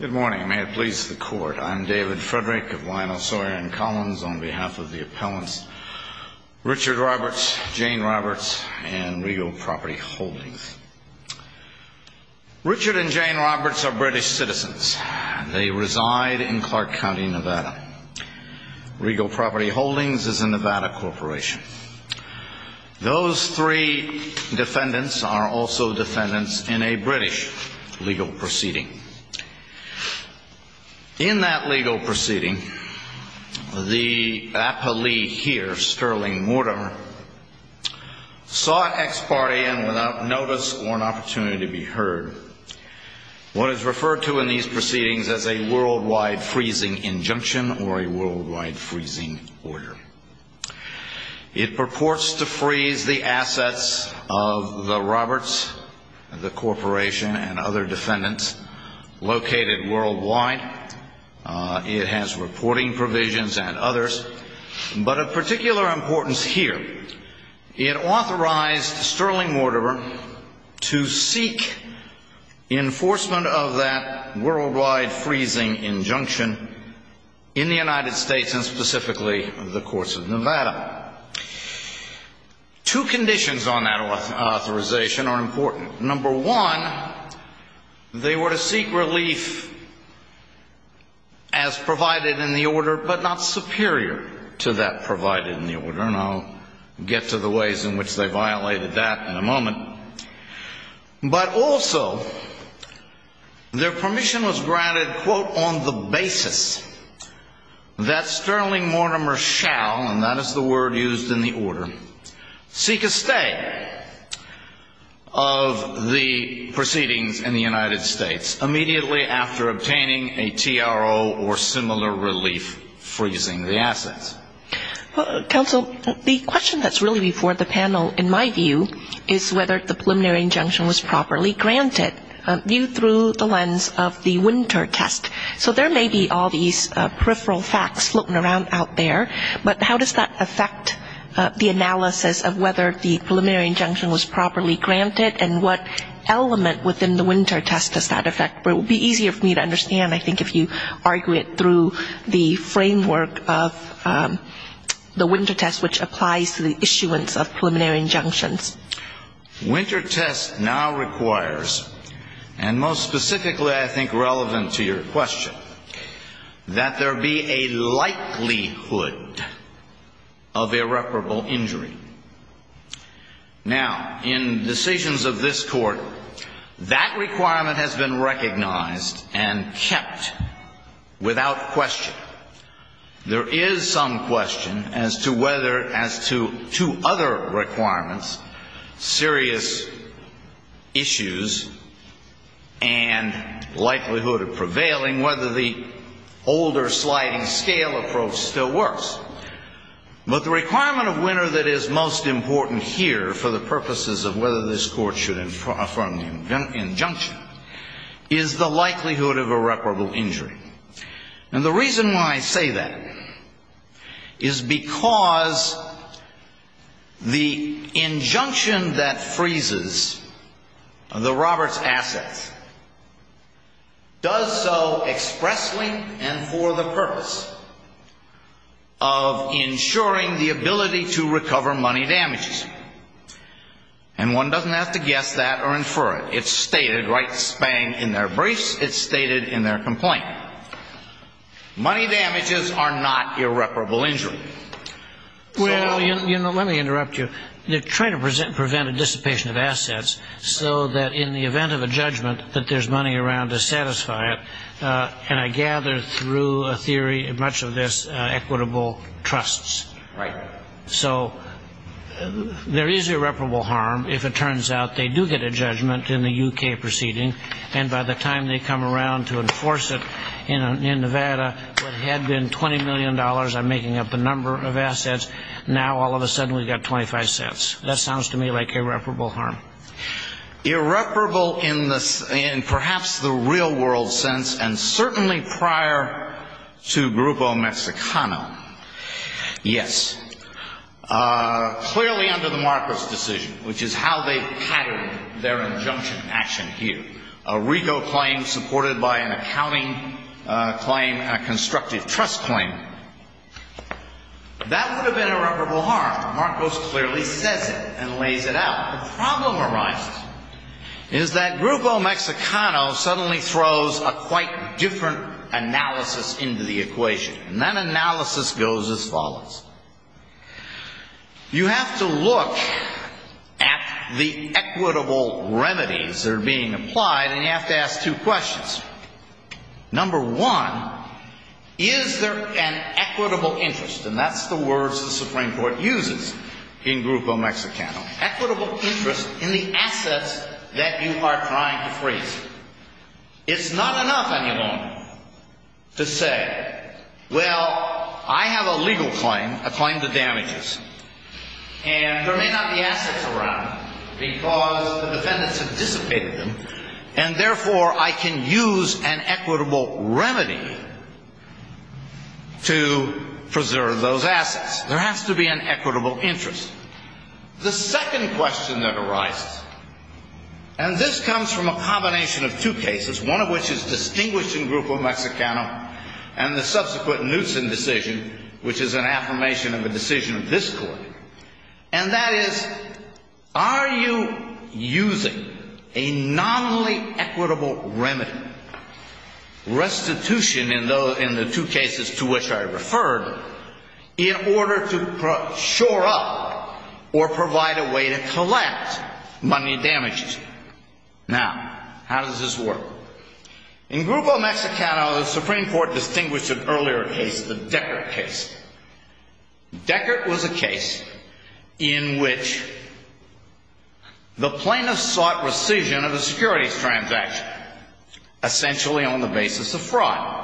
Good morning. May it please the court. I'm David Frederick of Lionel Sawyer & Collins on behalf of the appellants Richard Roberts, Jane Roberts, and Regal Property Holdings. Richard and Jane Roberts are British citizens. They reside in Clark County, Nevada. Regal Property Holdings is a Nevada corporation. Those three defendants are also defendants in a British legal proceeding. In that legal proceeding, the appellee here, Stirling Mortimer, saw ex parte and without notice or an opportunity to be heard what is referred to in these proceedings as a worldwide freezing injunction or a worldwide freezing order. It purports to freeze the corporation and other defendants located worldwide. It has reporting provisions and others. But of particular importance here, it authorized Stirling Mortimer to seek enforcement of that worldwide freezing injunction in the United States and specifically the courts of Nevada. Two conditions on that authorization are important. Number one, they were to seek relief as provided in the order, but not superior to that provided in the order. And I'll get to the ways in which they violated that in a moment. But also, their permission was granted quote, on the basis that Stirling Mortimer shall, and that is the word used in the order, seek a stay of the proceedings in the United States immediately after obtaining a TRO or similar relief freezing the assets. Counsel, the question that's really before the panel in my view is whether the preliminary injunction was properly granted, viewed through the lens of the winter test. So there may be all these peripheral facts floating around out there, but how does that affect the analysis of whether the preliminary injunction was properly granted and what element within the winter test does that affect? It would be easier for me to understand, I think, if you argue it through the framework of the winter test, which applies to the issuance of preliminary injunctions. Winter test now requires, and most specifically I think relevant to your question, that there be a likelihood of irreparable injury. Now, in decisions of this Court, that requirement has been recognized and kept without question. There is some question as to whether, as to other requirements, serious issues and likelihood of prevailing, whether the older sliding-scale approach still works. But the requirement of winter that is most important here for the purposes of whether this Court should affirm the injunction is the likelihood of the injunction that freezes the Roberts assets does so expressly and for the purpose of ensuring the ability to recover money damages. And one doesn't have to guess that or infer it. It's stated right spang in their briefs. It's stated in their complaint. Money damages are not irreparable injury. Well, you know, let me interrupt you. They're trying to prevent a dissipation of assets so that in the event of a judgment that there's money around to satisfy it. And I gather through a theory much of this equitable trusts. So there is irreparable harm if it turns out they do get a judgment in the U.K. proceeding. And by the time they come around to enforce it in Nevada, what had been $20 million, I'm making up a number of assets, now all of a sudden we've got 25 cents. That sounds to me like irreparable harm. Irreparable in perhaps the real-world sense and certainly prior to Grupo Mexicano, yes. Clearly under the Marcos decision, which is how they patterned their injunction action here. A RICO claim supported by an accounting claim, a constructive trust claim. That would have been irreparable harm. Marcos clearly says it and lays it out. The problem arises is that Grupo Mexicano suddenly throws a quite different analysis into the equation. And that analysis goes as follows. You have to look at the equitable remedies that are being applied and you have to ask two questions. Number one, is there an equitable interest? And that's the words the Supreme Court uses in Grupo Mexicano. Equitable interest in the assets that you are trying to freeze. It's not enough any longer to say, well, I have a legal claim, a claim to damages, and there may not be assets around because the defendants have dissipated them and therefore I can use an equitable remedy to preserve those assets. There has to be an equitable interest. The second question that arises, and this comes from a combination of two cases, one of which is distinguished in Grupo Mexicano and the subsequent Knutson decision, which is an affirmation of a decision of this court, and that is, are you using a nominally equitable remedy, restitution in the two cases to which I referred, in order to shore up or provide a way to collect money damaged? Now, how does this work? In Grupo Mexicano, the Supreme Court distinguished an earlier case, the Deckert case. Deckert was a case in which the plaintiffs sought rescission of a securities transaction, essentially on the basis of fraud.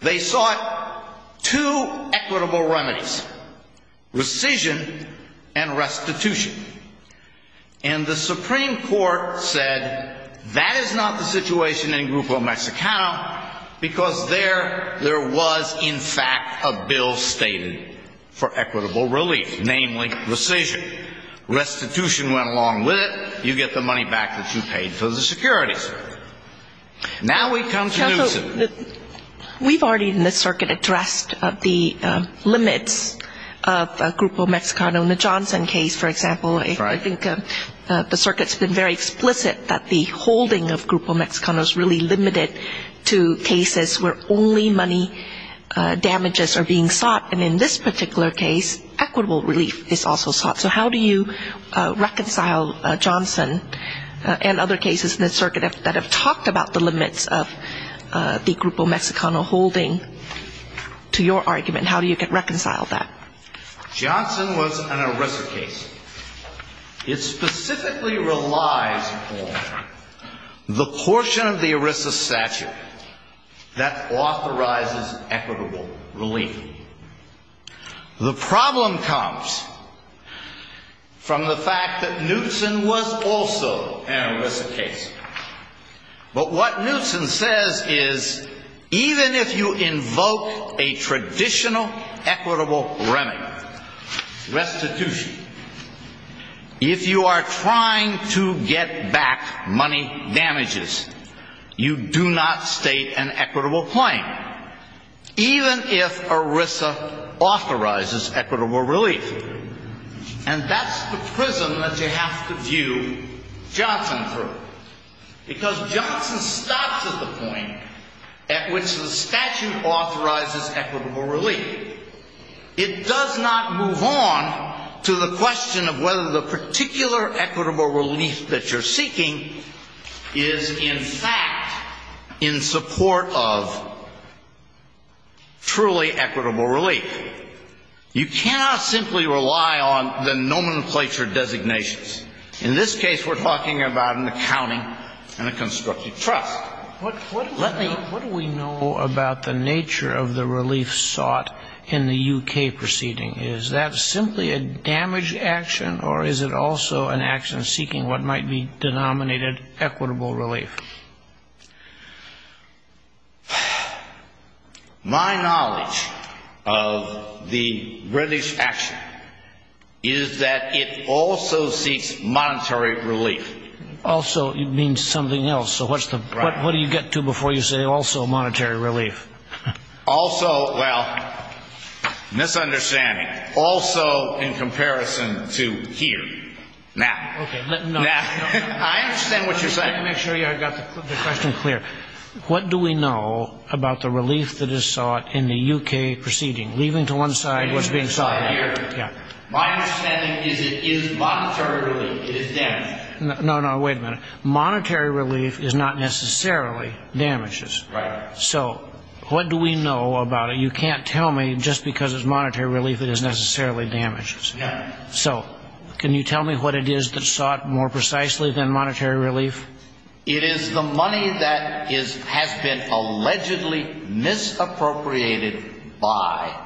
They sought two equitable remedies, rescission and restitution. And the Supreme Court said that is not the situation in Grupo Mexicano because there, there was, in fact, a bill stated for equitable relief, namely rescission. Restitution went along with it. You get the money back that you paid for the securities. Now we come to Knutson. We've already in the circuit addressed the limits of Grupo Mexicano. In the Johnson case, for example, I think the circuit's been very explicit that the holding of Grupo Mexicano is really limited to cases where only money damages are being sought. And in this particular case, equitable relief is also sought. So how do you reconcile Johnson and other cases in the circuit that have talked about the limits of the Grupo Mexicano holding to your argument? How do you reconcile that? Johnson was an ERISA case. It specifically relies on the portion of the ERISA statute that comes from the fact that Knutson was also an ERISA case. But what Knutson says is even if you invoke a traditional equitable remedy, restitution, if you are trying to get back money damages, you do not state an equitable claim, even if ERISA authorizes equitable relief. And that's the prism that you have to view Johnson through. Because Johnson stops at the point at which the statute authorizes equitable relief. It does not move on to the question of whether the particular equitable relief that you're seeking is in support of truly equitable relief. You cannot simply rely on the nomenclature designations. In this case, we're talking about an accounting and a constructive trust. What do we know about the nature of the relief sought in the U.K. proceeding? Is that simply a damaged action, or is it also an action seeking what might be denominated equitable relief? My knowledge of the British action is that it also seeks monetary relief. Also means something else. So what do you get to before you say also monetary relief? Also, well, misunderstanding. Also in comparison to here. Now, I understand what you're saying. Let me make sure I got the question clear. What do we know about the relief that is sought in the U.K. proceeding? Leaving to one side what's being sought here. My understanding is it is monetary relief. It is damaged. No, no, wait a minute. Monetary relief is not necessarily damages. Right. So what do we know about it? You can't tell me just because it's monetary relief it is necessarily damages. So can you tell me what it is that's sought more precisely than monetary relief? It is the money that has been allegedly misappropriated by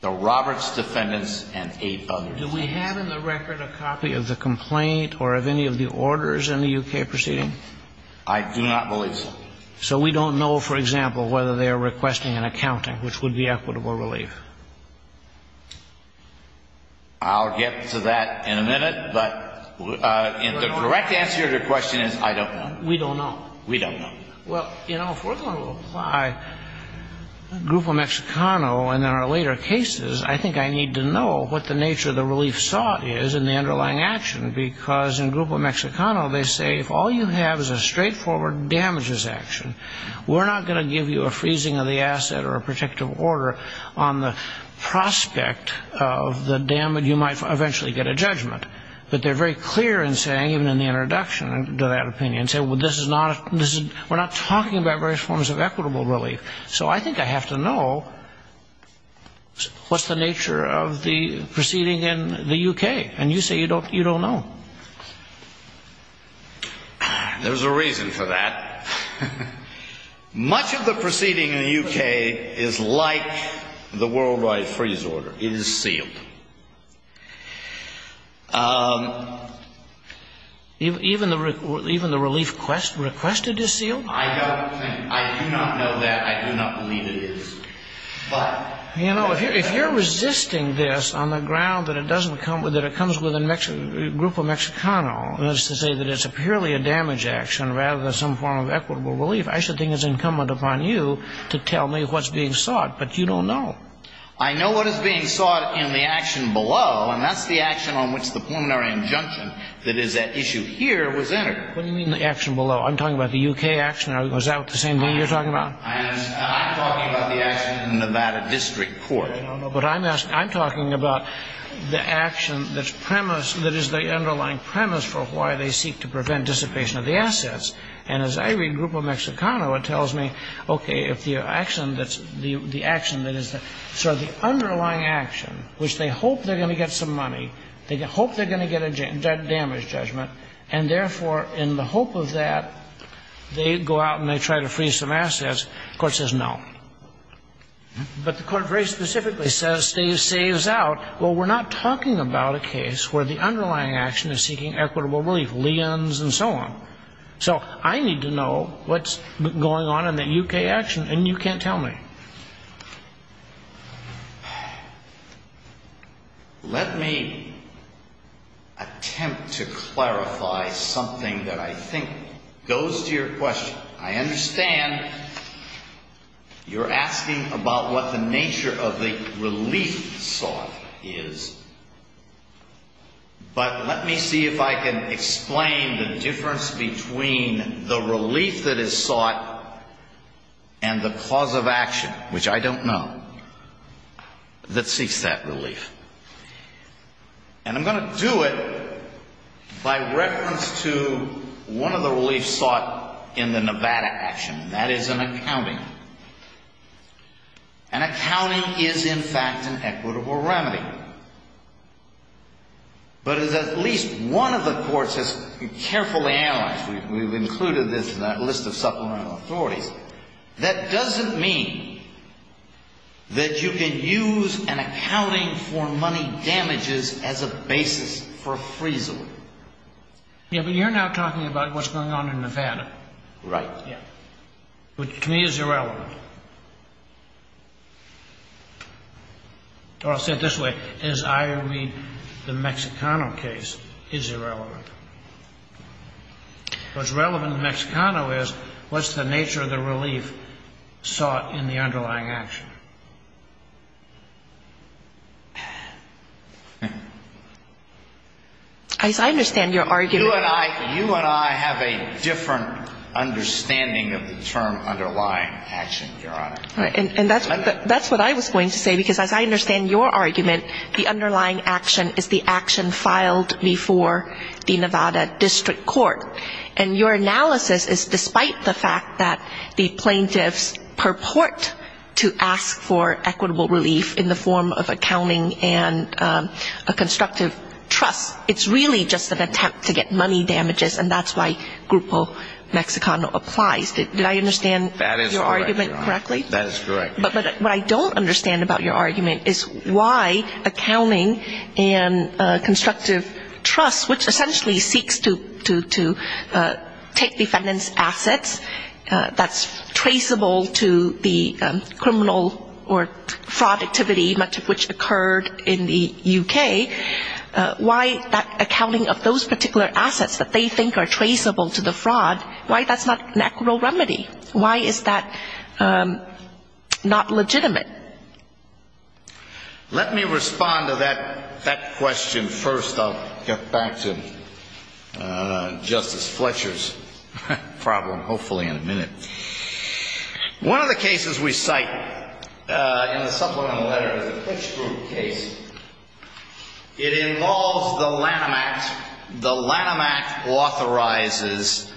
the Roberts defendants and eight others. Do we have in the record a copy of the complaint or of any of the orders in the U.K. proceeding? I do not believe so. So we don't know, for example, whether they are requesting an accounting, which would be equitable relief? I'll get to that in a minute, but the correct answer to your question is I don't know. We don't know. We don't know. Well, you know, if we're going to apply Grupo Mexicano in our later cases, I think I need to know what the nature of the relief sought is in the underlying action, because in Grupo Mexicano they say if all you have is a straightforward damages action, we're not going to give you a freezing of the asset or a protective order on the prospect of the damage you might eventually get a judgment. But they're very clear in saying, even in the introduction to that opinion, say, well, this is not, we're not talking about various forms of equitable relief. So I think I have to know what's the nature of the proceeding in the U.K. And you say you don't know. There's a reason for that. Much of the proceeding in the U.K. is like the Worldwide Freeze Order. It is sealed. Even the relief requested is sealed? I don't think. I do not know that. I do not believe it is. But... You know, if you're resisting this on the ground that it doesn't come with it, it comes with a Grupo Mexicano as to say that it's a purely a damage action rather than some form of equitable relief, I should think it's incumbent upon you to tell me what's being sought. But you don't know. I know what is being sought in the action below, and that's the action on which the preliminary injunction that is at issue here was entered. What do you mean the action below? I'm talking about the U.K. action. Is that the same thing you're talking about? I'm talking about the action in the Nevada District Court. But I'm talking about the action that is the underlying premise for why they seek to prevent dissipation of the assets. And as I read Grupo Mexicano, it tells me, okay, if the action that is sort of the underlying action, which they hope they're going to get some money, they hope they're going to get a damage judgment, and therefore, in the hope of that, they go out and they try to freeze some assets, the Court says no. But the Court very specifically says, saves out. Well, we're not talking about a case where the underlying action is seeking equitable relief, liens and so on. So I need to know what's going on in that U.K. action, and you can't tell me. Let me attempt to clarify something that I think goes to your question. I understand you're asking about what the nature of the relief sought is. But let me see if I can explain the difference between the relief that is sought and the cause of action, which I don't know, that seeks that relief. And I'm going to do it by reference to one of the reliefs sought in the Nevada action, and that is an accounting. An accounting is, in fact, an equitable remedy. But as at least one of the courts has carefully analyzed, we've included this in that list of supplemental authorities, that doesn't mean that you can use an accounting for money damages as a basis for freezing. Yeah, but you're now talking about what's going on in Nevada. Right. Which to me is irrelevant. Or I'll say it this way, as I read the Mexicano case, is irrelevant. What's relevant in the Mexicano is what's the nature of the relief sought in the underlying action. As I understand your argument... You and I have a different understanding of the term underlying action, Your Honor. And that's what I was going to say, because as I understand your argument, the underlying action is the action filed before the Nevada District Court. And your analysis is despite the fact that the plaintiffs purport to ask for equitable relief in the form of accounting and a constructive trust, it's really just an attempt to get money damages, and that's why Grupo Mexicano applies. Did I understand your argument correctly? That is correct, Your Honor. But what I don't understand about your argument is why accounting and constructive trust, which essentially seeks to take defendant's assets that's traceable to the criminal or fraud activity, much of which occurred in the U.K., why that accounting of those particular assets that they think are traceable to the fraud, why that's not an equitable right? Why is that not legitimate? Let me respond to that question first. I'll get back to Justice Fletcher's problem hopefully in a minute. One of the cases we cite in the supplemental letter is the Klitschkrupp case. It involves the Lanham Act. The Lanham Act authorizes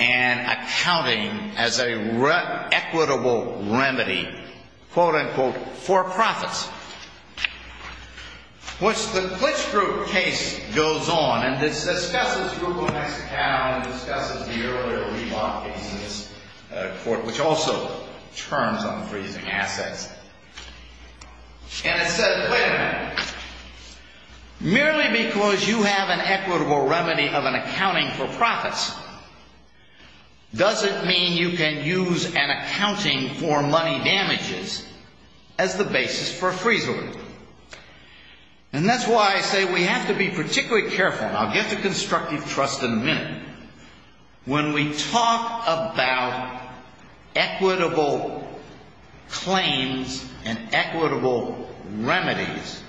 an accounting as an equitable remedy, quote, unquote, for profits. The Klitschkrupp case goes on, and it discusses Grupo Mexicano and discusses the earlier Reebok case in this court, which also terms unfreezing assets. And it says, wait a minute. Merely because you have an equitable remedy of an accounting for profits doesn't mean you can use an accounting for money damages as the basis for a freezer loan. And that's why I say we have to be particularly careful, and I'll get to constructive trust in a minute. When we talk about equitable claims and equitable remedies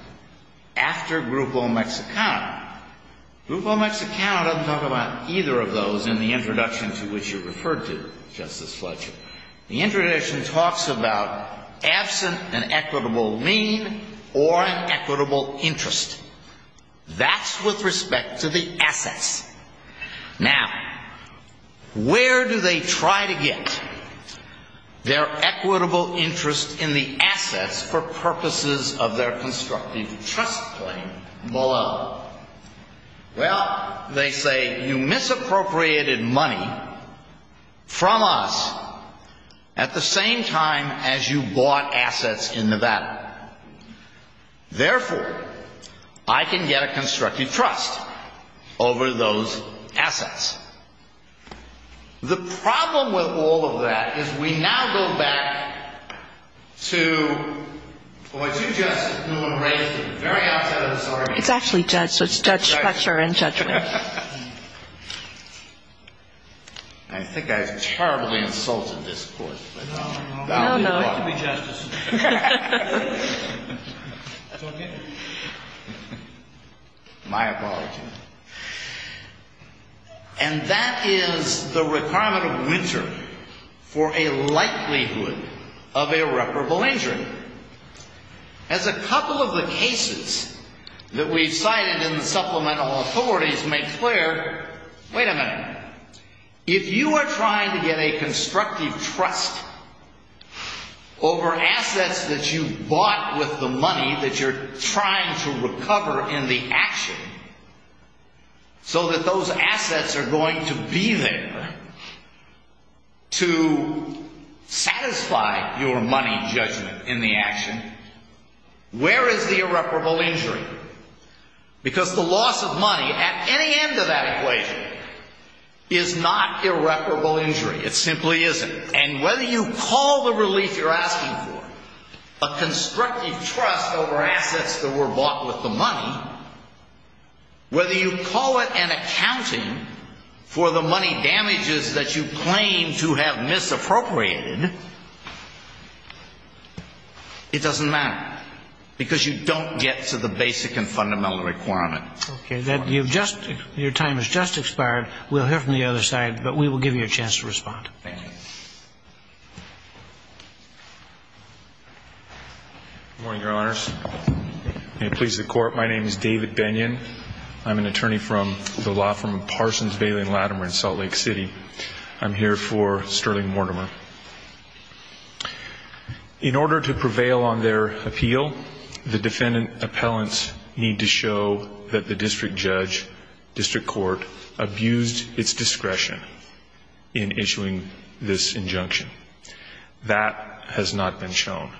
after Grupo Mexicano, Grupo Mexicano doesn't talk about either of those in the introduction to which you referred to, Justice Fletcher. The introduction talks about absent an equitable mean or an equitable interest. That's with respect to the assets. Now, where do they try to get their equitable interest in the assets for purposes of their constructive trust claim below? Well, they say you misappropriated money from us at the same time as you bought assets in Nevada. Therefore, I can get a constructive trust over those assets. The problem with all of that is we now go back to what you just raised at the very outset of this argument. It's actually Judge Fletcher in judgment. I think I've terribly insulted this Court. No, no. That's okay. My apologies. And that is the requirement of winter for a likelihood of irreparable injury. As a couple of the cases that we've cited in the supplemental authorities make clear, wait a minute. If you are trying to get a constructive trust over assets that you bought with the money that you're trying to recover in the action, so that those assets are going to be there to satisfy your money judgment in the action, where is the irreparable injury? Because the loss of money at any end of that equation is not irreparable injury. It simply isn't. And whether you call the relief you're asking for a constructive trust over assets that were bought with the money, whether you call it an accounting for the money damages that you claim to have misappropriated, it doesn't matter, because you don't get to the basic and fundamental requirement. Okay. Your time has just expired. We'll hear from the other side, but we will give you a chance to respond. Thank you. Good morning, Your Honors. May it please the Court, my name is David Bennion. I'm an attorney from the law firm of Parsons, Bailey & Latimer in Salt Lake City. I'm here for Sterling Mortimer. In order to prevail on their appeal, the defendant appellants need to show that the district judge, district court abused its discretion in issuing this injunction. That has not been shown.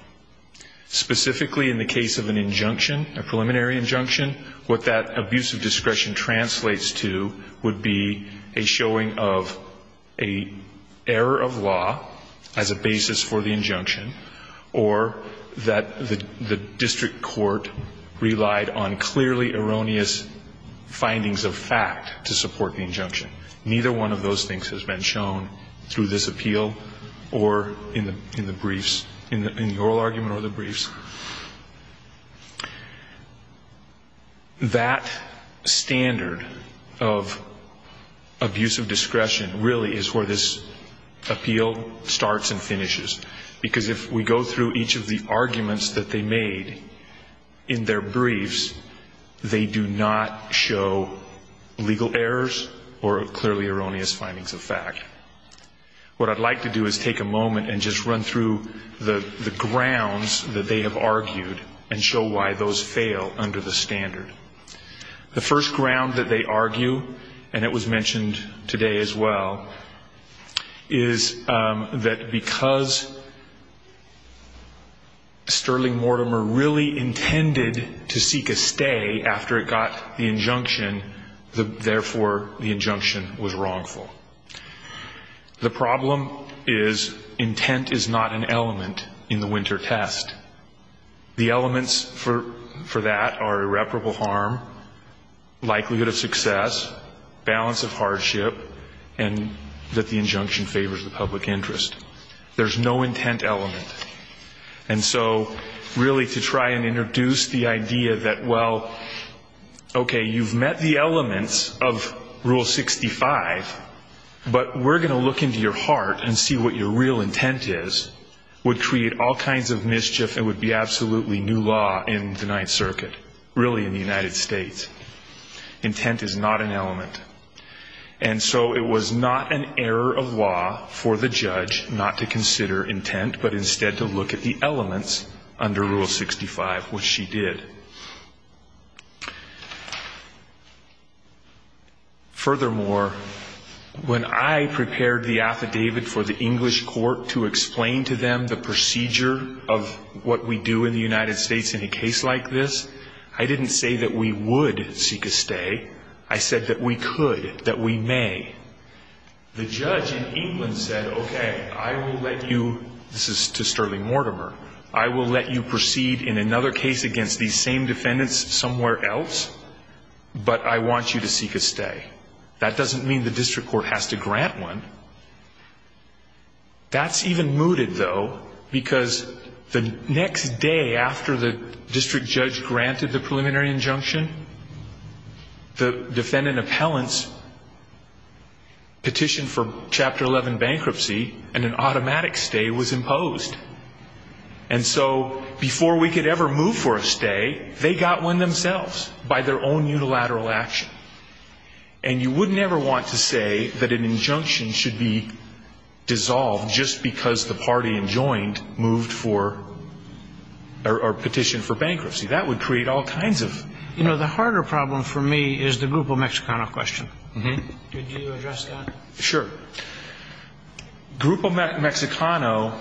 Specifically in the case of an injunction, a preliminary injunction, what that abuse of discretion translates to would be a showing of an error of law as a basis for the injunction, or that the district court relied on clearly erroneous findings of fact to support the injunction. Neither one of those things has been shown through this appeal or in the briefs, in the oral argument or the briefs. That standard of abuse of discretion really is where this appeal starts and finishes, because if we go through each of the arguments that they made in their briefs, they do not show legal errors or clearly erroneous findings of fact. What I'd like to do is take a moment and just run through the grounds that they have argued and show why those fail under the standard. The first ground that they argue, and it was mentioned today as well, is that because Sterling Mortimer really intended to seek a stay after it got the injunction, therefore the injunction was wrongful. The problem is intent is not an element in the winter test. The elements for that are irreparable harm, likelihood of success, balance of hardship, and that the injunction favors the public interest. There's no intent element. And so really to try and introduce the idea that, well, okay, you've met the elements of Rule 65, but we're going to look into your heart and see what your real intent is, would create all kinds of mischief and would be absolutely new law in the Ninth Circuit, really in the United States. Intent is not an element. And so it was not an error of law for the judge not to consider intent but instead to look at the elements under Rule 65, which she did. Furthermore, when I prepared the affidavit for the English court to explain to them the procedure of what we do in the United States in a case like this, I didn't say that we would seek a stay. I said that we could, that we may. The judge in England said, okay, I will let you, this is to Sterling Mortimer, I will let you proceed in another case against these same defendants somewhere else, but I want you to seek a stay. That doesn't mean the district court has to grant one. That's even mooted, though, because the next day after the district judge granted the preliminary injunction, the defendant appellant's petition for Chapter 11 bankruptcy and an automatic stay was imposed. And so before we could ever move for a stay, they got one themselves by their own unilateral action. And you wouldn't ever want to say that an injunction should be dissolved just because the party enjoined moved for, or petitioned for bankruptcy. That would create all kinds of... You know, the harder problem for me is the Grupo Mexicano question. Could you address that? Sure. Grupo Mexicano,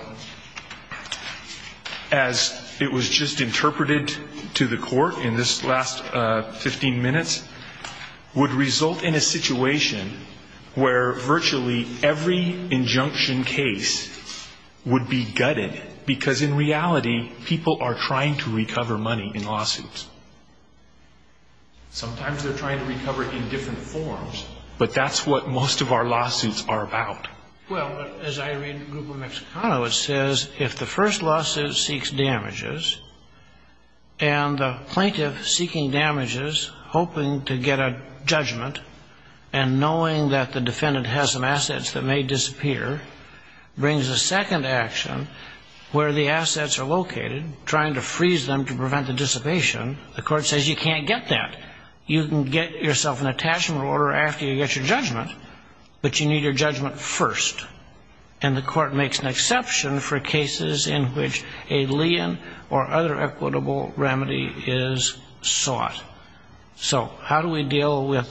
as it was just interpreted to the court in this last 15 minutes, would result in a situation where virtually every injunction case would be gutted, because in reality, people are trying to recover money in lawsuits. Sometimes they're trying to recover it in different forms, but that's what most of our lawsuits are about. Well, as I read Grupo Mexicano, it says, if the first lawsuit seeks damages and the plaintiff seeking damages, hoping to get a judgment and knowing that the defendant has some assets that may disappear, brings a second action where the assets are located, trying to freeze them to prevent the dissipation, the court says you can't get that. You can get yourself an attachment order after you get your judgment, but you need your judgment first. And the court makes an exception for cases in which a lien or other equitable remedy is sought. So how do we deal with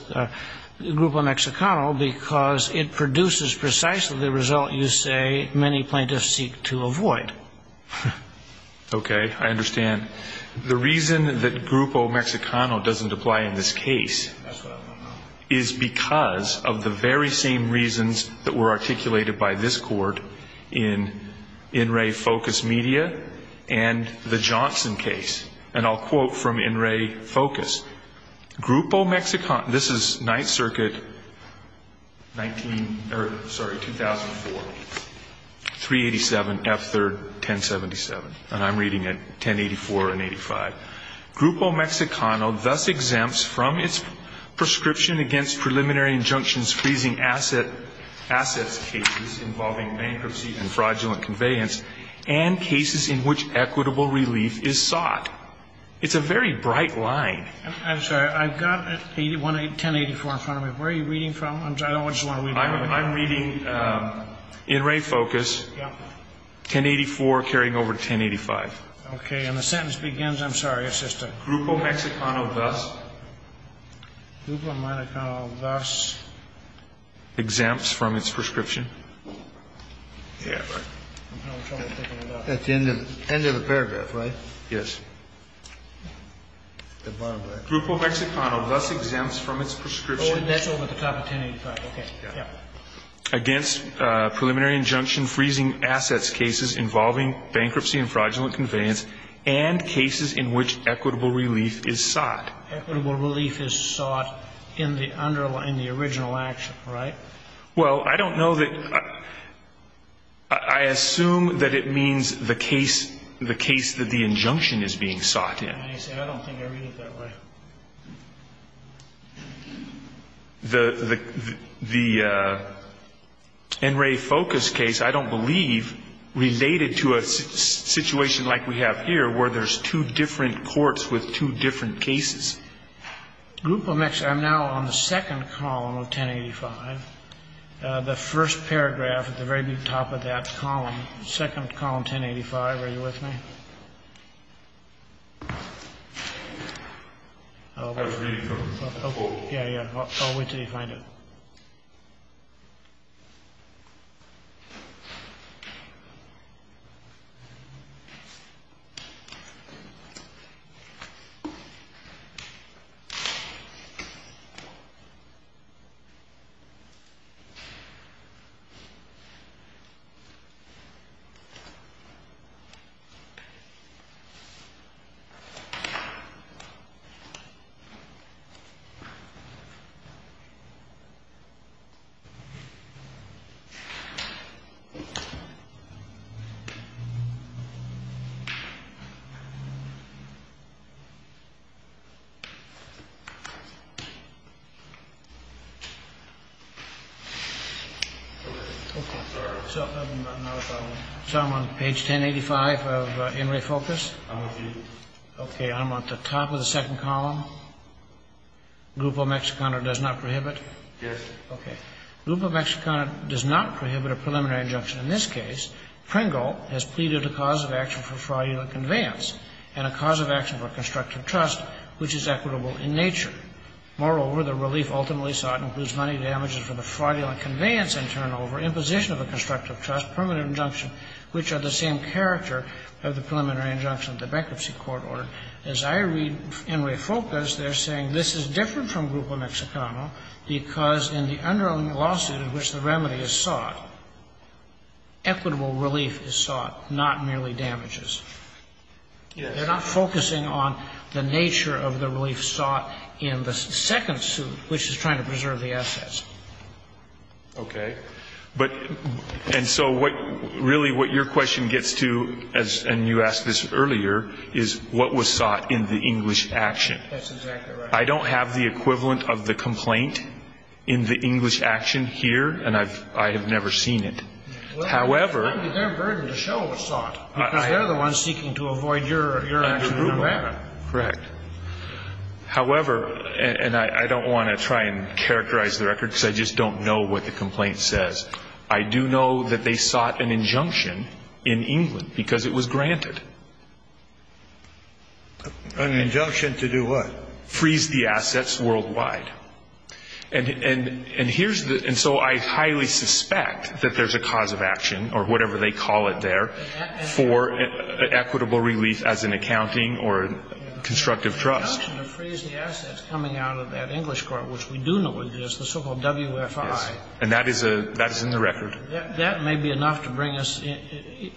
Grupo Mexicano? Because it produces precisely the result you say many plaintiffs seek to avoid. Okay. I understand. The reason that Grupo Mexicano doesn't apply in this case is because of the very same reasons that were articulated by this court in In Re Focus Media and the Johnson case. And I'll quote from In Re Focus. Grupo Mexicano, this is Ninth Circuit, 19, sorry, 2004, 387, F3rd, 1077. And I'm reading it, 1084 and 85. Grupo Mexicano thus exempts from its prescription against preliminary injunctions freezing assets cases involving bankruptcy and fraudulent conveyance and cases in which equitable relief is sought. It's a very bright line. I'm sorry. I've got 1084 in front of me. Where are you reading from? I don't want you to read it. I'm reading In Re Focus, 1084 carrying over 1085. Okay. And the sentence begins, I'm sorry, it's just a group of Mexicano thus. Grupo Mexicano thus. Exempts from its prescription. That's the end of the paragraph, right? Yes. Grupo Mexicano thus exempts from its prescription. Oh, that's over the top of 1085. Okay. Yeah. Against preliminary injunction freezing assets cases involving bankruptcy and fraudulent conveyance and cases in which equitable relief is sought. Equitable relief is sought in the original action, right? Well, I don't know that I assume that it means the case that the injunction is being sought in. I don't think I read it that way. The In Re Focus case, I don't believe, related to a situation like we have here where there's two different courts with two different cases. Grupo Mexicano. I'm now on the second column of 1085. The first paragraph at the very top of that column, second column, 1085. Are you with me? Yeah, yeah. I'll wait till you find it. Okay. So I'm on page 1085 of In Re Focus. I'm with you. Okay. I'm on the top of the second column. Grupo Mexicano does not prohibit? Yes. Okay. Grupo Mexicano does not prohibit a preliminary injunction. In this case, Pringle has pleaded a cause of action for fraudulent conveyance and a cause of action for constructive trust, which is equitable in nature. Moreover, the relief ultimately sought includes money damages for the fraudulent conveyance and turnover, imposition of a constructive trust, permanent injunction, which are the same character of the preliminary injunction of the bankruptcy court order. As I read In Re Focus, they're saying this is different from Grupo Mexicano because in the underlying lawsuit in which the remedy is sought, equitable relief is sought, not merely damages. They're not focusing on the nature of the relief sought in the second suit, which is trying to preserve the assets. Okay. And so really what your question gets to, and you asked this earlier, is what was sought in the English action. That's exactly right. I don't have the equivalent of the complaint in the English action here, and I have never seen it. Well, it would be their burden to show what was sought, because they're the ones seeking to avoid your action on that. Correct. However, and I don't want to try and characterize the record because I just don't know what the complaint says. I do know that they sought an injunction in England because it was granted. An injunction to do what? Freeze the assets worldwide. And here's the – and so I highly suspect that there's a cause of action, or whatever they call it there, for equitable relief as in accounting or constructive trust. The injunction to freeze the assets coming out of that English court, which we do know what it is, the so-called WFI. Yes. And that is in the record. That may be enough to bring us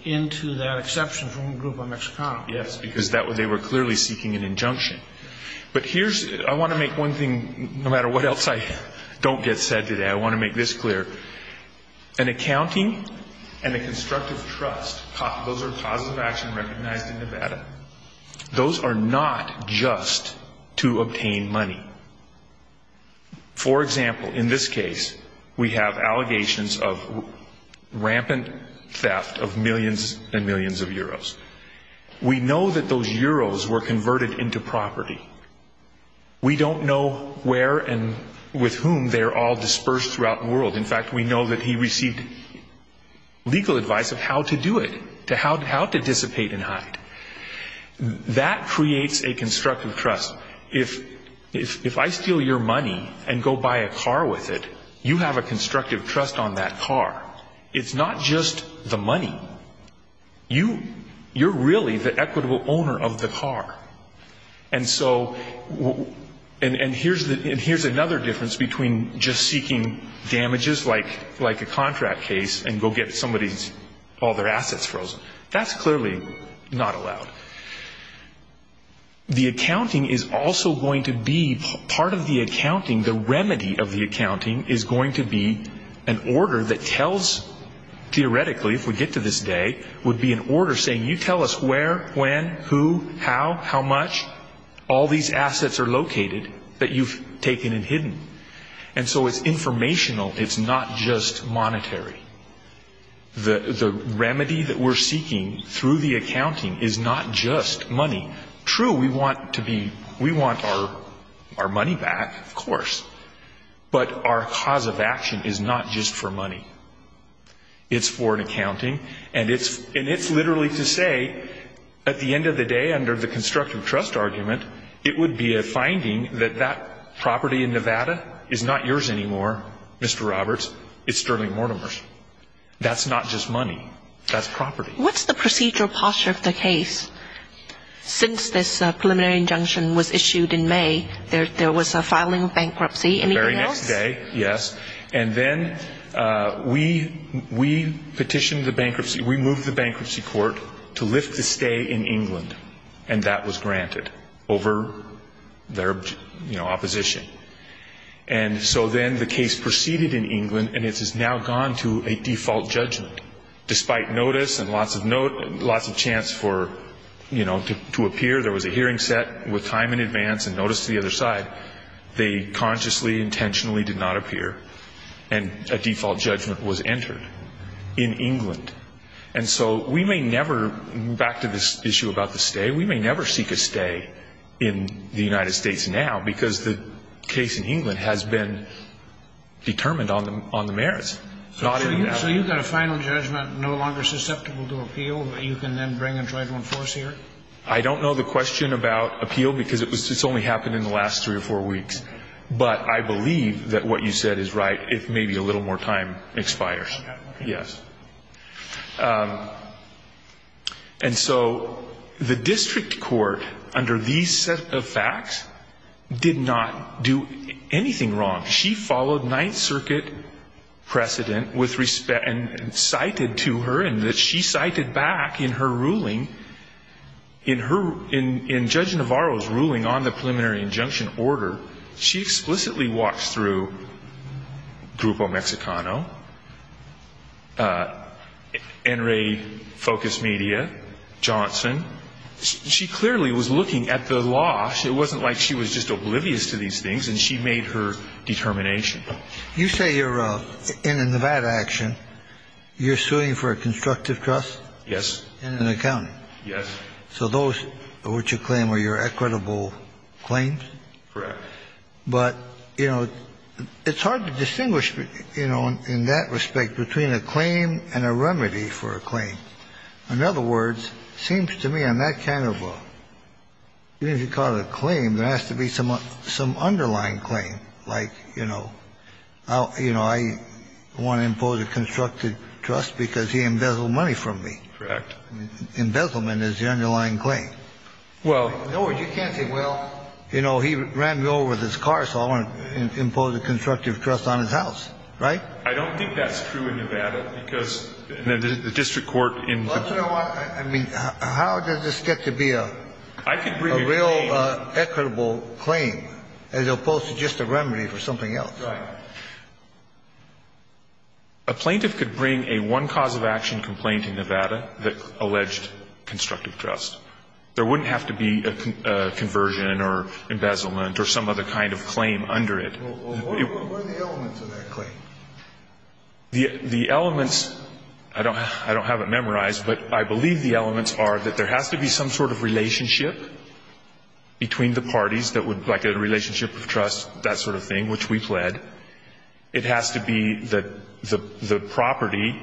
into that exception from a group of Mexicans. Yes, because they were clearly seeking an injunction. But here's – I want to make one thing, no matter what else I don't get said today, I want to make this clear. in Nevada. Those are not just to obtain money. For example, in this case, we have allegations of rampant theft of millions and millions of euros. We know that those euros were converted into property. We don't know where and with whom they are all dispersed throughout the world. In fact, we know that he received legal advice of how to do it, how to dissipate and hide. That creates a constructive trust. If I steal your money and go buy a car with it, you have a constructive trust on that car. It's not just the money. You're really the equitable owner of the car. And so – and here's another difference between just seeking damages like a contract case and go get somebody's – all their assets frozen. That's clearly not allowed. The accounting is also going to be – part of the accounting, the remedy of the accounting is going to be an order that tells, theoretically, if we get to this day, would be an order saying, you tell us where, when, who, how, how much. All these assets are located that you've taken and hidden. And so it's informational. It's not just monetary. The remedy that we're seeking through the accounting is not just money. True, we want to be – we want our money back, of course. But our cause of action is not just for money. It's for an accounting. And it's literally to say, at the end of the day, under the constructive trust argument, it would be a finding that that property in Nevada is not yours anymore, Mr. Roberts. It's Sterling Mortimer's. That's not just money. That's property. What's the procedural posture of the case? Since this preliminary injunction was issued in May, there was a filing of bankruptcy. Anything else? The very next day, yes. And then we petitioned the bankruptcy. We moved the bankruptcy court to lift the stay in England. And that was granted over their opposition. And so then the case proceeded in England, and it has now gone to a default judgment, despite notice and lots of chance for, you know, to appear. There was a hearing set with time in advance and notice to the other side. They consciously, intentionally did not appear, and a default judgment was entered in England. And so we may never – back to this issue about the stay – we may never seek a stay in the United States now, because the case in England has been determined on the merits, not in Nevada. So you've got a final judgment no longer susceptible to appeal that you can then bring and try to enforce here? I don't know the question about appeal, because it's only happened in the last three or four weeks. But I believe that what you said is right if maybe a little more time expires. Okay. Yes. And so the district court, under these set of facts, did not do anything wrong. She followed Ninth Circuit precedent with respect – and cited to her, and that she cited back in her ruling, in her – in Judge Navarro's ruling on the preliminary injunction order, she explicitly walks through Grupo Mexicano Enray Focus Media, Johnson. She clearly was looking at the law. It wasn't like she was just oblivious to these things, and she made her determination. You say you're in a Nevada action. You're suing for a constructive trust? Yes. And an accounting? Yes. So those which you claim are your equitable claims? Correct. But, you know, it's hard to distinguish, you know, in that respect, between a claim and a remedy for a claim. In other words, it seems to me on that kind of a – even if you call it a claim, there has to be some underlying claim, like, you know, I want to impose a constructive trust because he embezzled money from me. Correct. Embezzlement is the underlying claim. Well – In other words, you can't say, well, you know, he ran me over with his car, so I want to impose a constructive trust on his house. Right? I don't think that's true in Nevada because the district court in – Well, you know what? I mean, how does this get to be a real equitable claim as opposed to just a remedy for something else? Right. A plaintiff could bring a one-cause-of-action complaint in Nevada that alleged constructive trust. There wouldn't have to be a conversion or embezzlement or some other kind of claim under it. Well, what are the elements of that claim? The elements – I don't have it memorized, but I believe the elements are that there has to be some sort of relationship between the parties that would – like a relationship of trust, that sort of thing, which we pled. It has to be that the property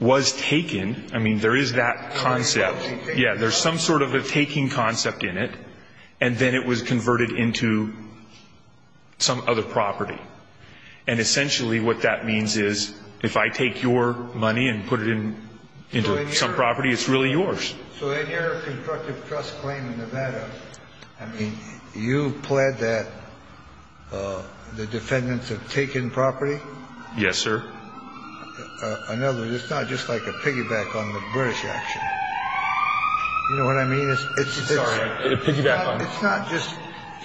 was taken. I mean, there is that concept. Yeah. There's some sort of a taking concept in it, and then it was converted into some other property. And essentially what that means is if I take your money and put it into some property, it's really yours. So in your constructive trust claim in Nevada, I mean, you pled that the defendants have taken property? Yes, sir. In other words, it's not just like a piggyback on the British action. You know what I mean? It's not just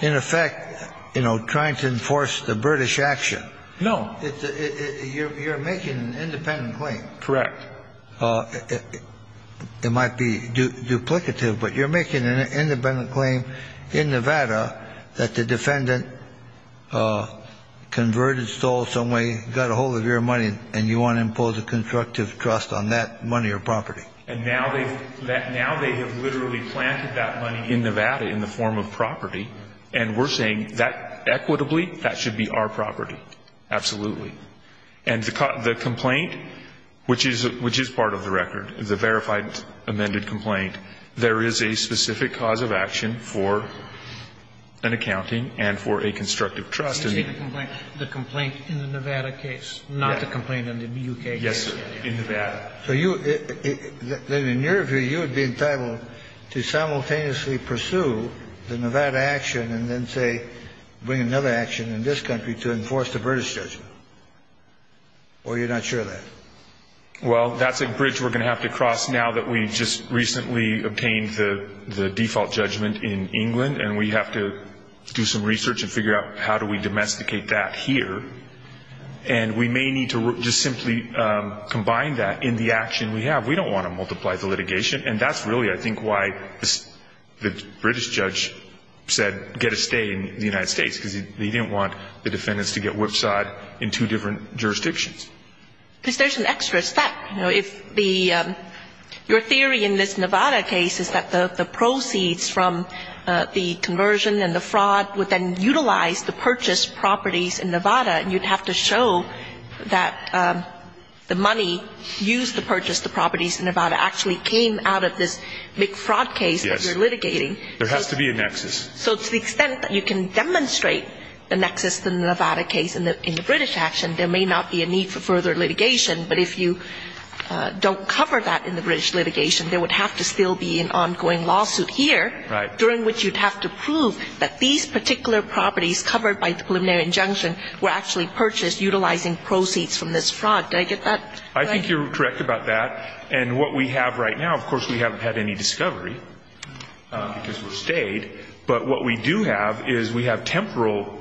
in effect, you know, trying to enforce the British action. No. You're making an independent claim. Correct. It might be duplicative, but you're making an independent claim in Nevada that the defendant converted, stole some money, got a hold of your money, and you want to impose a constructive trust on that money or property. And now they have literally planted that money in Nevada in the form of property, and we're saying that, equitably, that should be our property. Absolutely. And the complaint, which is part of the record, the verified amended complaint, there is a The complaint in the Nevada case, not the complaint in the U.K. case. Yes, sir. In Nevada. So you, then in your view, you would be entitled to simultaneously pursue the Nevada action and then, say, bring another action in this country to enforce the British judgment, or you're not sure of that? Well, that's a bridge we're going to have to cross now that we just recently obtained the domesticate that here, and we may need to just simply combine that in the action we have. We don't want to multiply the litigation. And that's really, I think, why the British judge said get a stay in the United States, because he didn't want the defendants to get whipsawed in two different jurisdictions. Because there's an extra step. You know, if the, your theory in this Nevada case is that the proceeds from the conversion and the fraud would then utilize the purchased properties in Nevada, and you'd have to show that the money used to purchase the properties in Nevada actually came out of this big fraud case that you're litigating. Yes. There has to be a nexus. So to the extent that you can demonstrate the nexus in the Nevada case in the British action, there may not be a need for further litigation. But if you don't cover that in the British litigation, there would have to still be an ongoing lawsuit here. Right. During which you'd have to prove that these particular properties covered by the preliminary injunction were actually purchased utilizing proceeds from this fraud. Did I get that right? I think you're correct about that. And what we have right now, of course, we haven't had any discovery because we're stayed. But what we do have is we have temporal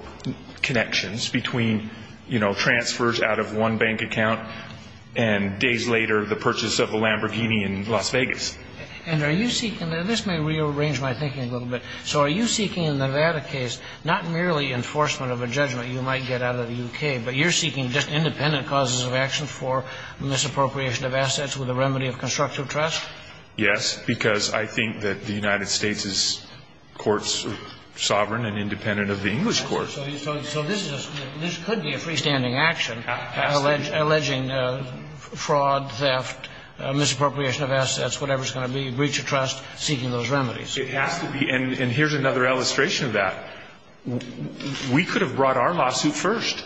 connections between, you know, transfers out of one bank account and days later the purchase of a Lamborghini in Las Vegas. And are you seeking, and this may rearrange my thinking a little bit, so are you seeking in the Nevada case not merely enforcement of a judgment you might get out of the U.K., but you're seeking just independent causes of action for misappropriation of assets with a remedy of constructive trust? Yes, because I think that the United States' courts are sovereign and independent of the English courts. So this could be a freestanding action alleging fraud, theft, misappropriation of assets, whatever it's going to be, breach of trust, seeking those remedies. It has to be. And here's another illustration of that. We could have brought our lawsuit first.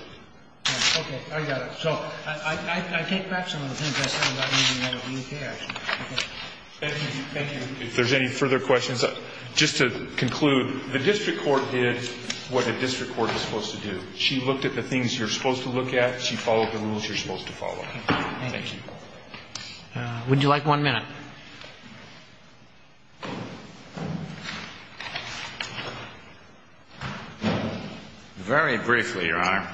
Okay. I got it. So I take back some of the things I said about the Nevada case. Thank you. If there's any further questions, just to conclude, the district court did what a district court is supposed to do. She looked at the things you're supposed to look at. She followed the rules you're supposed to follow. Thank you. Would you like one minute? Very briefly, Your Honor.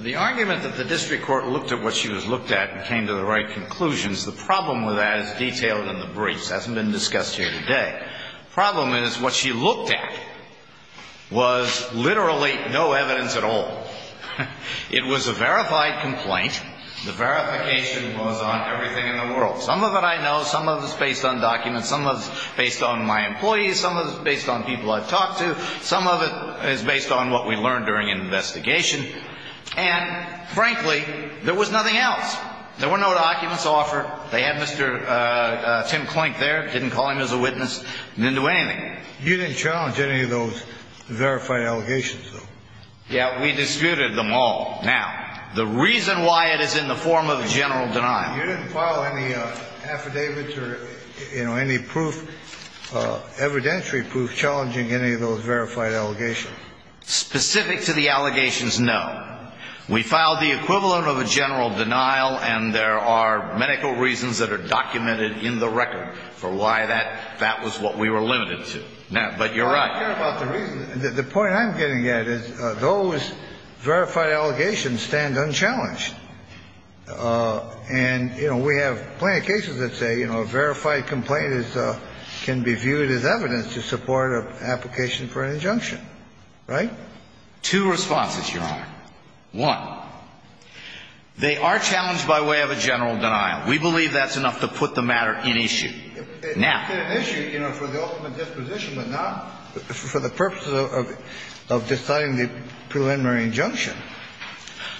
The argument that the district court looked at what she was looked at and came to the right conclusions, the problem with that is detailed in the briefs. It hasn't been discussed here today. The problem is what she looked at was literally no evidence at all. It was a verified complaint. The verification was on everything in the world. Some of it I know. Some of it's based on documents. Some of it's based on my employees. Some of it's based on people I've talked to. Some of it is based on what we learned during an investigation. And, frankly, there was nothing else. There were no documents offered. They had Mr. Tim Clink there, didn't call him as a witness, didn't do anything. You didn't challenge any of those verified allegations, though? Yeah, we disputed them all. Now, the reason why it is in the form of a general denial. You didn't file any affidavits or any proof, evidentiary proof, challenging any of those verified allegations? Specific to the allegations, no. We filed the equivalent of a general denial, and there are medical reasons that are documented in the record for why that was what we were limited to. But you're right. The point I'm getting at is those verified allegations stand unchallenged. And, you know, we have plenty of cases that say, you know, a verified complaint can be viewed as evidence to support an application for an injunction. Right? Two responses, Your Honor. One, they are challenged by way of a general denial. We believe that's enough to put the matter in issue. It's an issue, you know, for the ultimate disposition, but not for the purpose of deciding the preliminary injunction.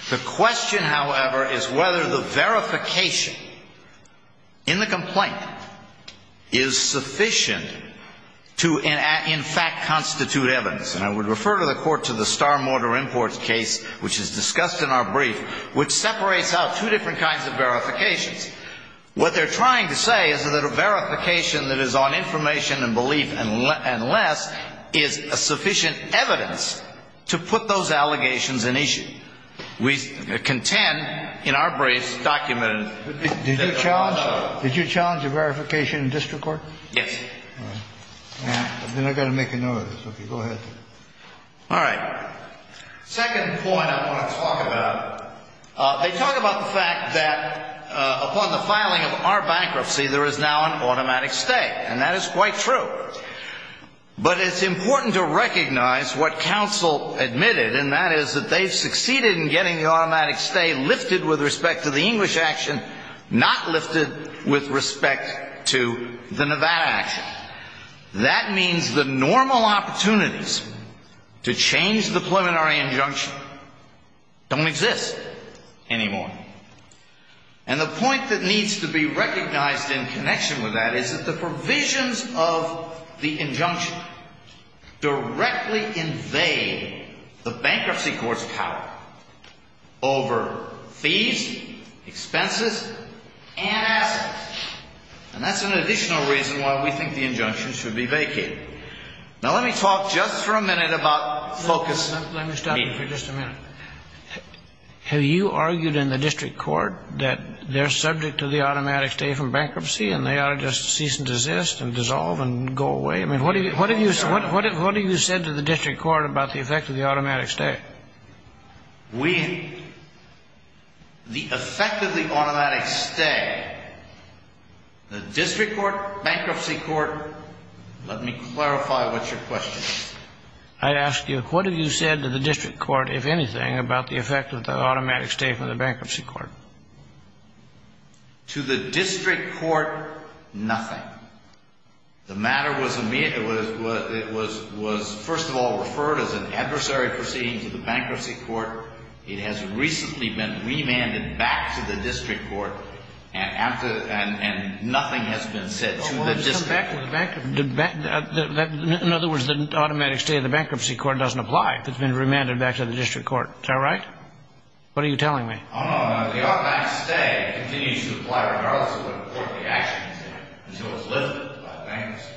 The question, however, is whether the verification in the complaint is sufficient to, in fact, constitute evidence. And I would refer to the court to the Starr Mortar Imports case, which is discussed in our brief, which separates out two different kinds of verifications. What they're trying to say is that a verification that is on information and belief and less is sufficient evidence to put those allegations in issue. We contend in our briefs documented. Did you challenge a verification in district court? Yes. Then I've got to make a note of this. Okay. Go ahead. All right. Second point I want to talk about, they talk about the fact that upon the filing of our bankruptcy, there is now an automatic stay. And that is quite true. But it's important to recognize what counsel admitted, and that is that they've succeeded in getting the automatic stay lifted with respect to the English action, not lifted with respect to the Nevada action. That means the normal opportunities to change the preliminary injunction don't exist anymore. And the point that needs to be recognized in connection with that is that the provisions of the injunction directly invade the bankruptcy court's power over fees, expenses, and assets. And that's an additional reason why we think the injunction should be vacated. Now, let me talk just for a minute about focus. Let me stop you for just a minute. Have you argued in the district court that they're subject to the automatic stay from bankruptcy and they ought to just cease and desist and dissolve and go away? I mean, what have you said to the district court about the effect of the automatic stay? The effect of the automatic stay, the district court, bankruptcy court, let me clarify what your question is. I ask you, what have you said to the district court, if anything, about the effect of the automatic stay from the bankruptcy court? To the district court, nothing. The matter was first of all referred as an adversary proceeding to the bankruptcy court. It has recently been remanded back to the district court, and nothing has been said to the district court. In other words, the automatic stay of the bankruptcy court doesn't apply. It's been remanded back to the district court. Is that right? What are you telling me? I don't know. The automatic stay continues to apply regardless of what court the action is in until it's lifted by bankruptcy.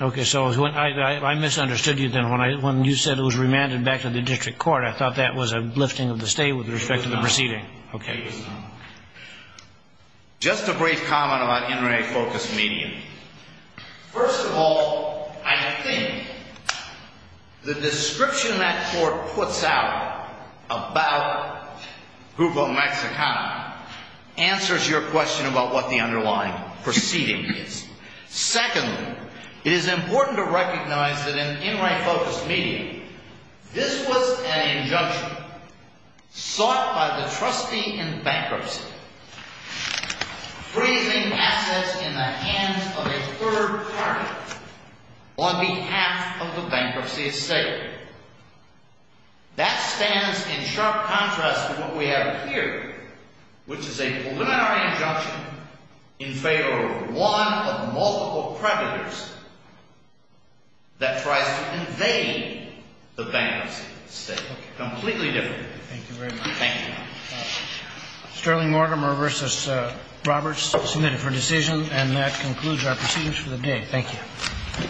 Okay. So I misunderstood you then. When you said it was remanded back to the district court, I thought that was a lifting of the stay with respect to the proceeding. It was not. Okay. It was not. Just a brief comment about NRA focused media. First of all, I think the description that court puts out about Juvo Mexicana answers your question about what the underlying proceeding is. Secondly, it is important to recognize that in NRA focused media, this was an injunction sought by the trustee in bankruptcy, freezing assets in the hands of a third party on behalf of the bankruptcy estate. That stands in sharp contrast to what we have here, which is a preliminary injunction in favor of one of multiple predators that tries to invade the bankruptcy estate. Okay. Completely different. Thank you very much. Thank you. Sterling Mortimer v. Roberts, submitted for decision. And that concludes our proceedings for the day. Thank you.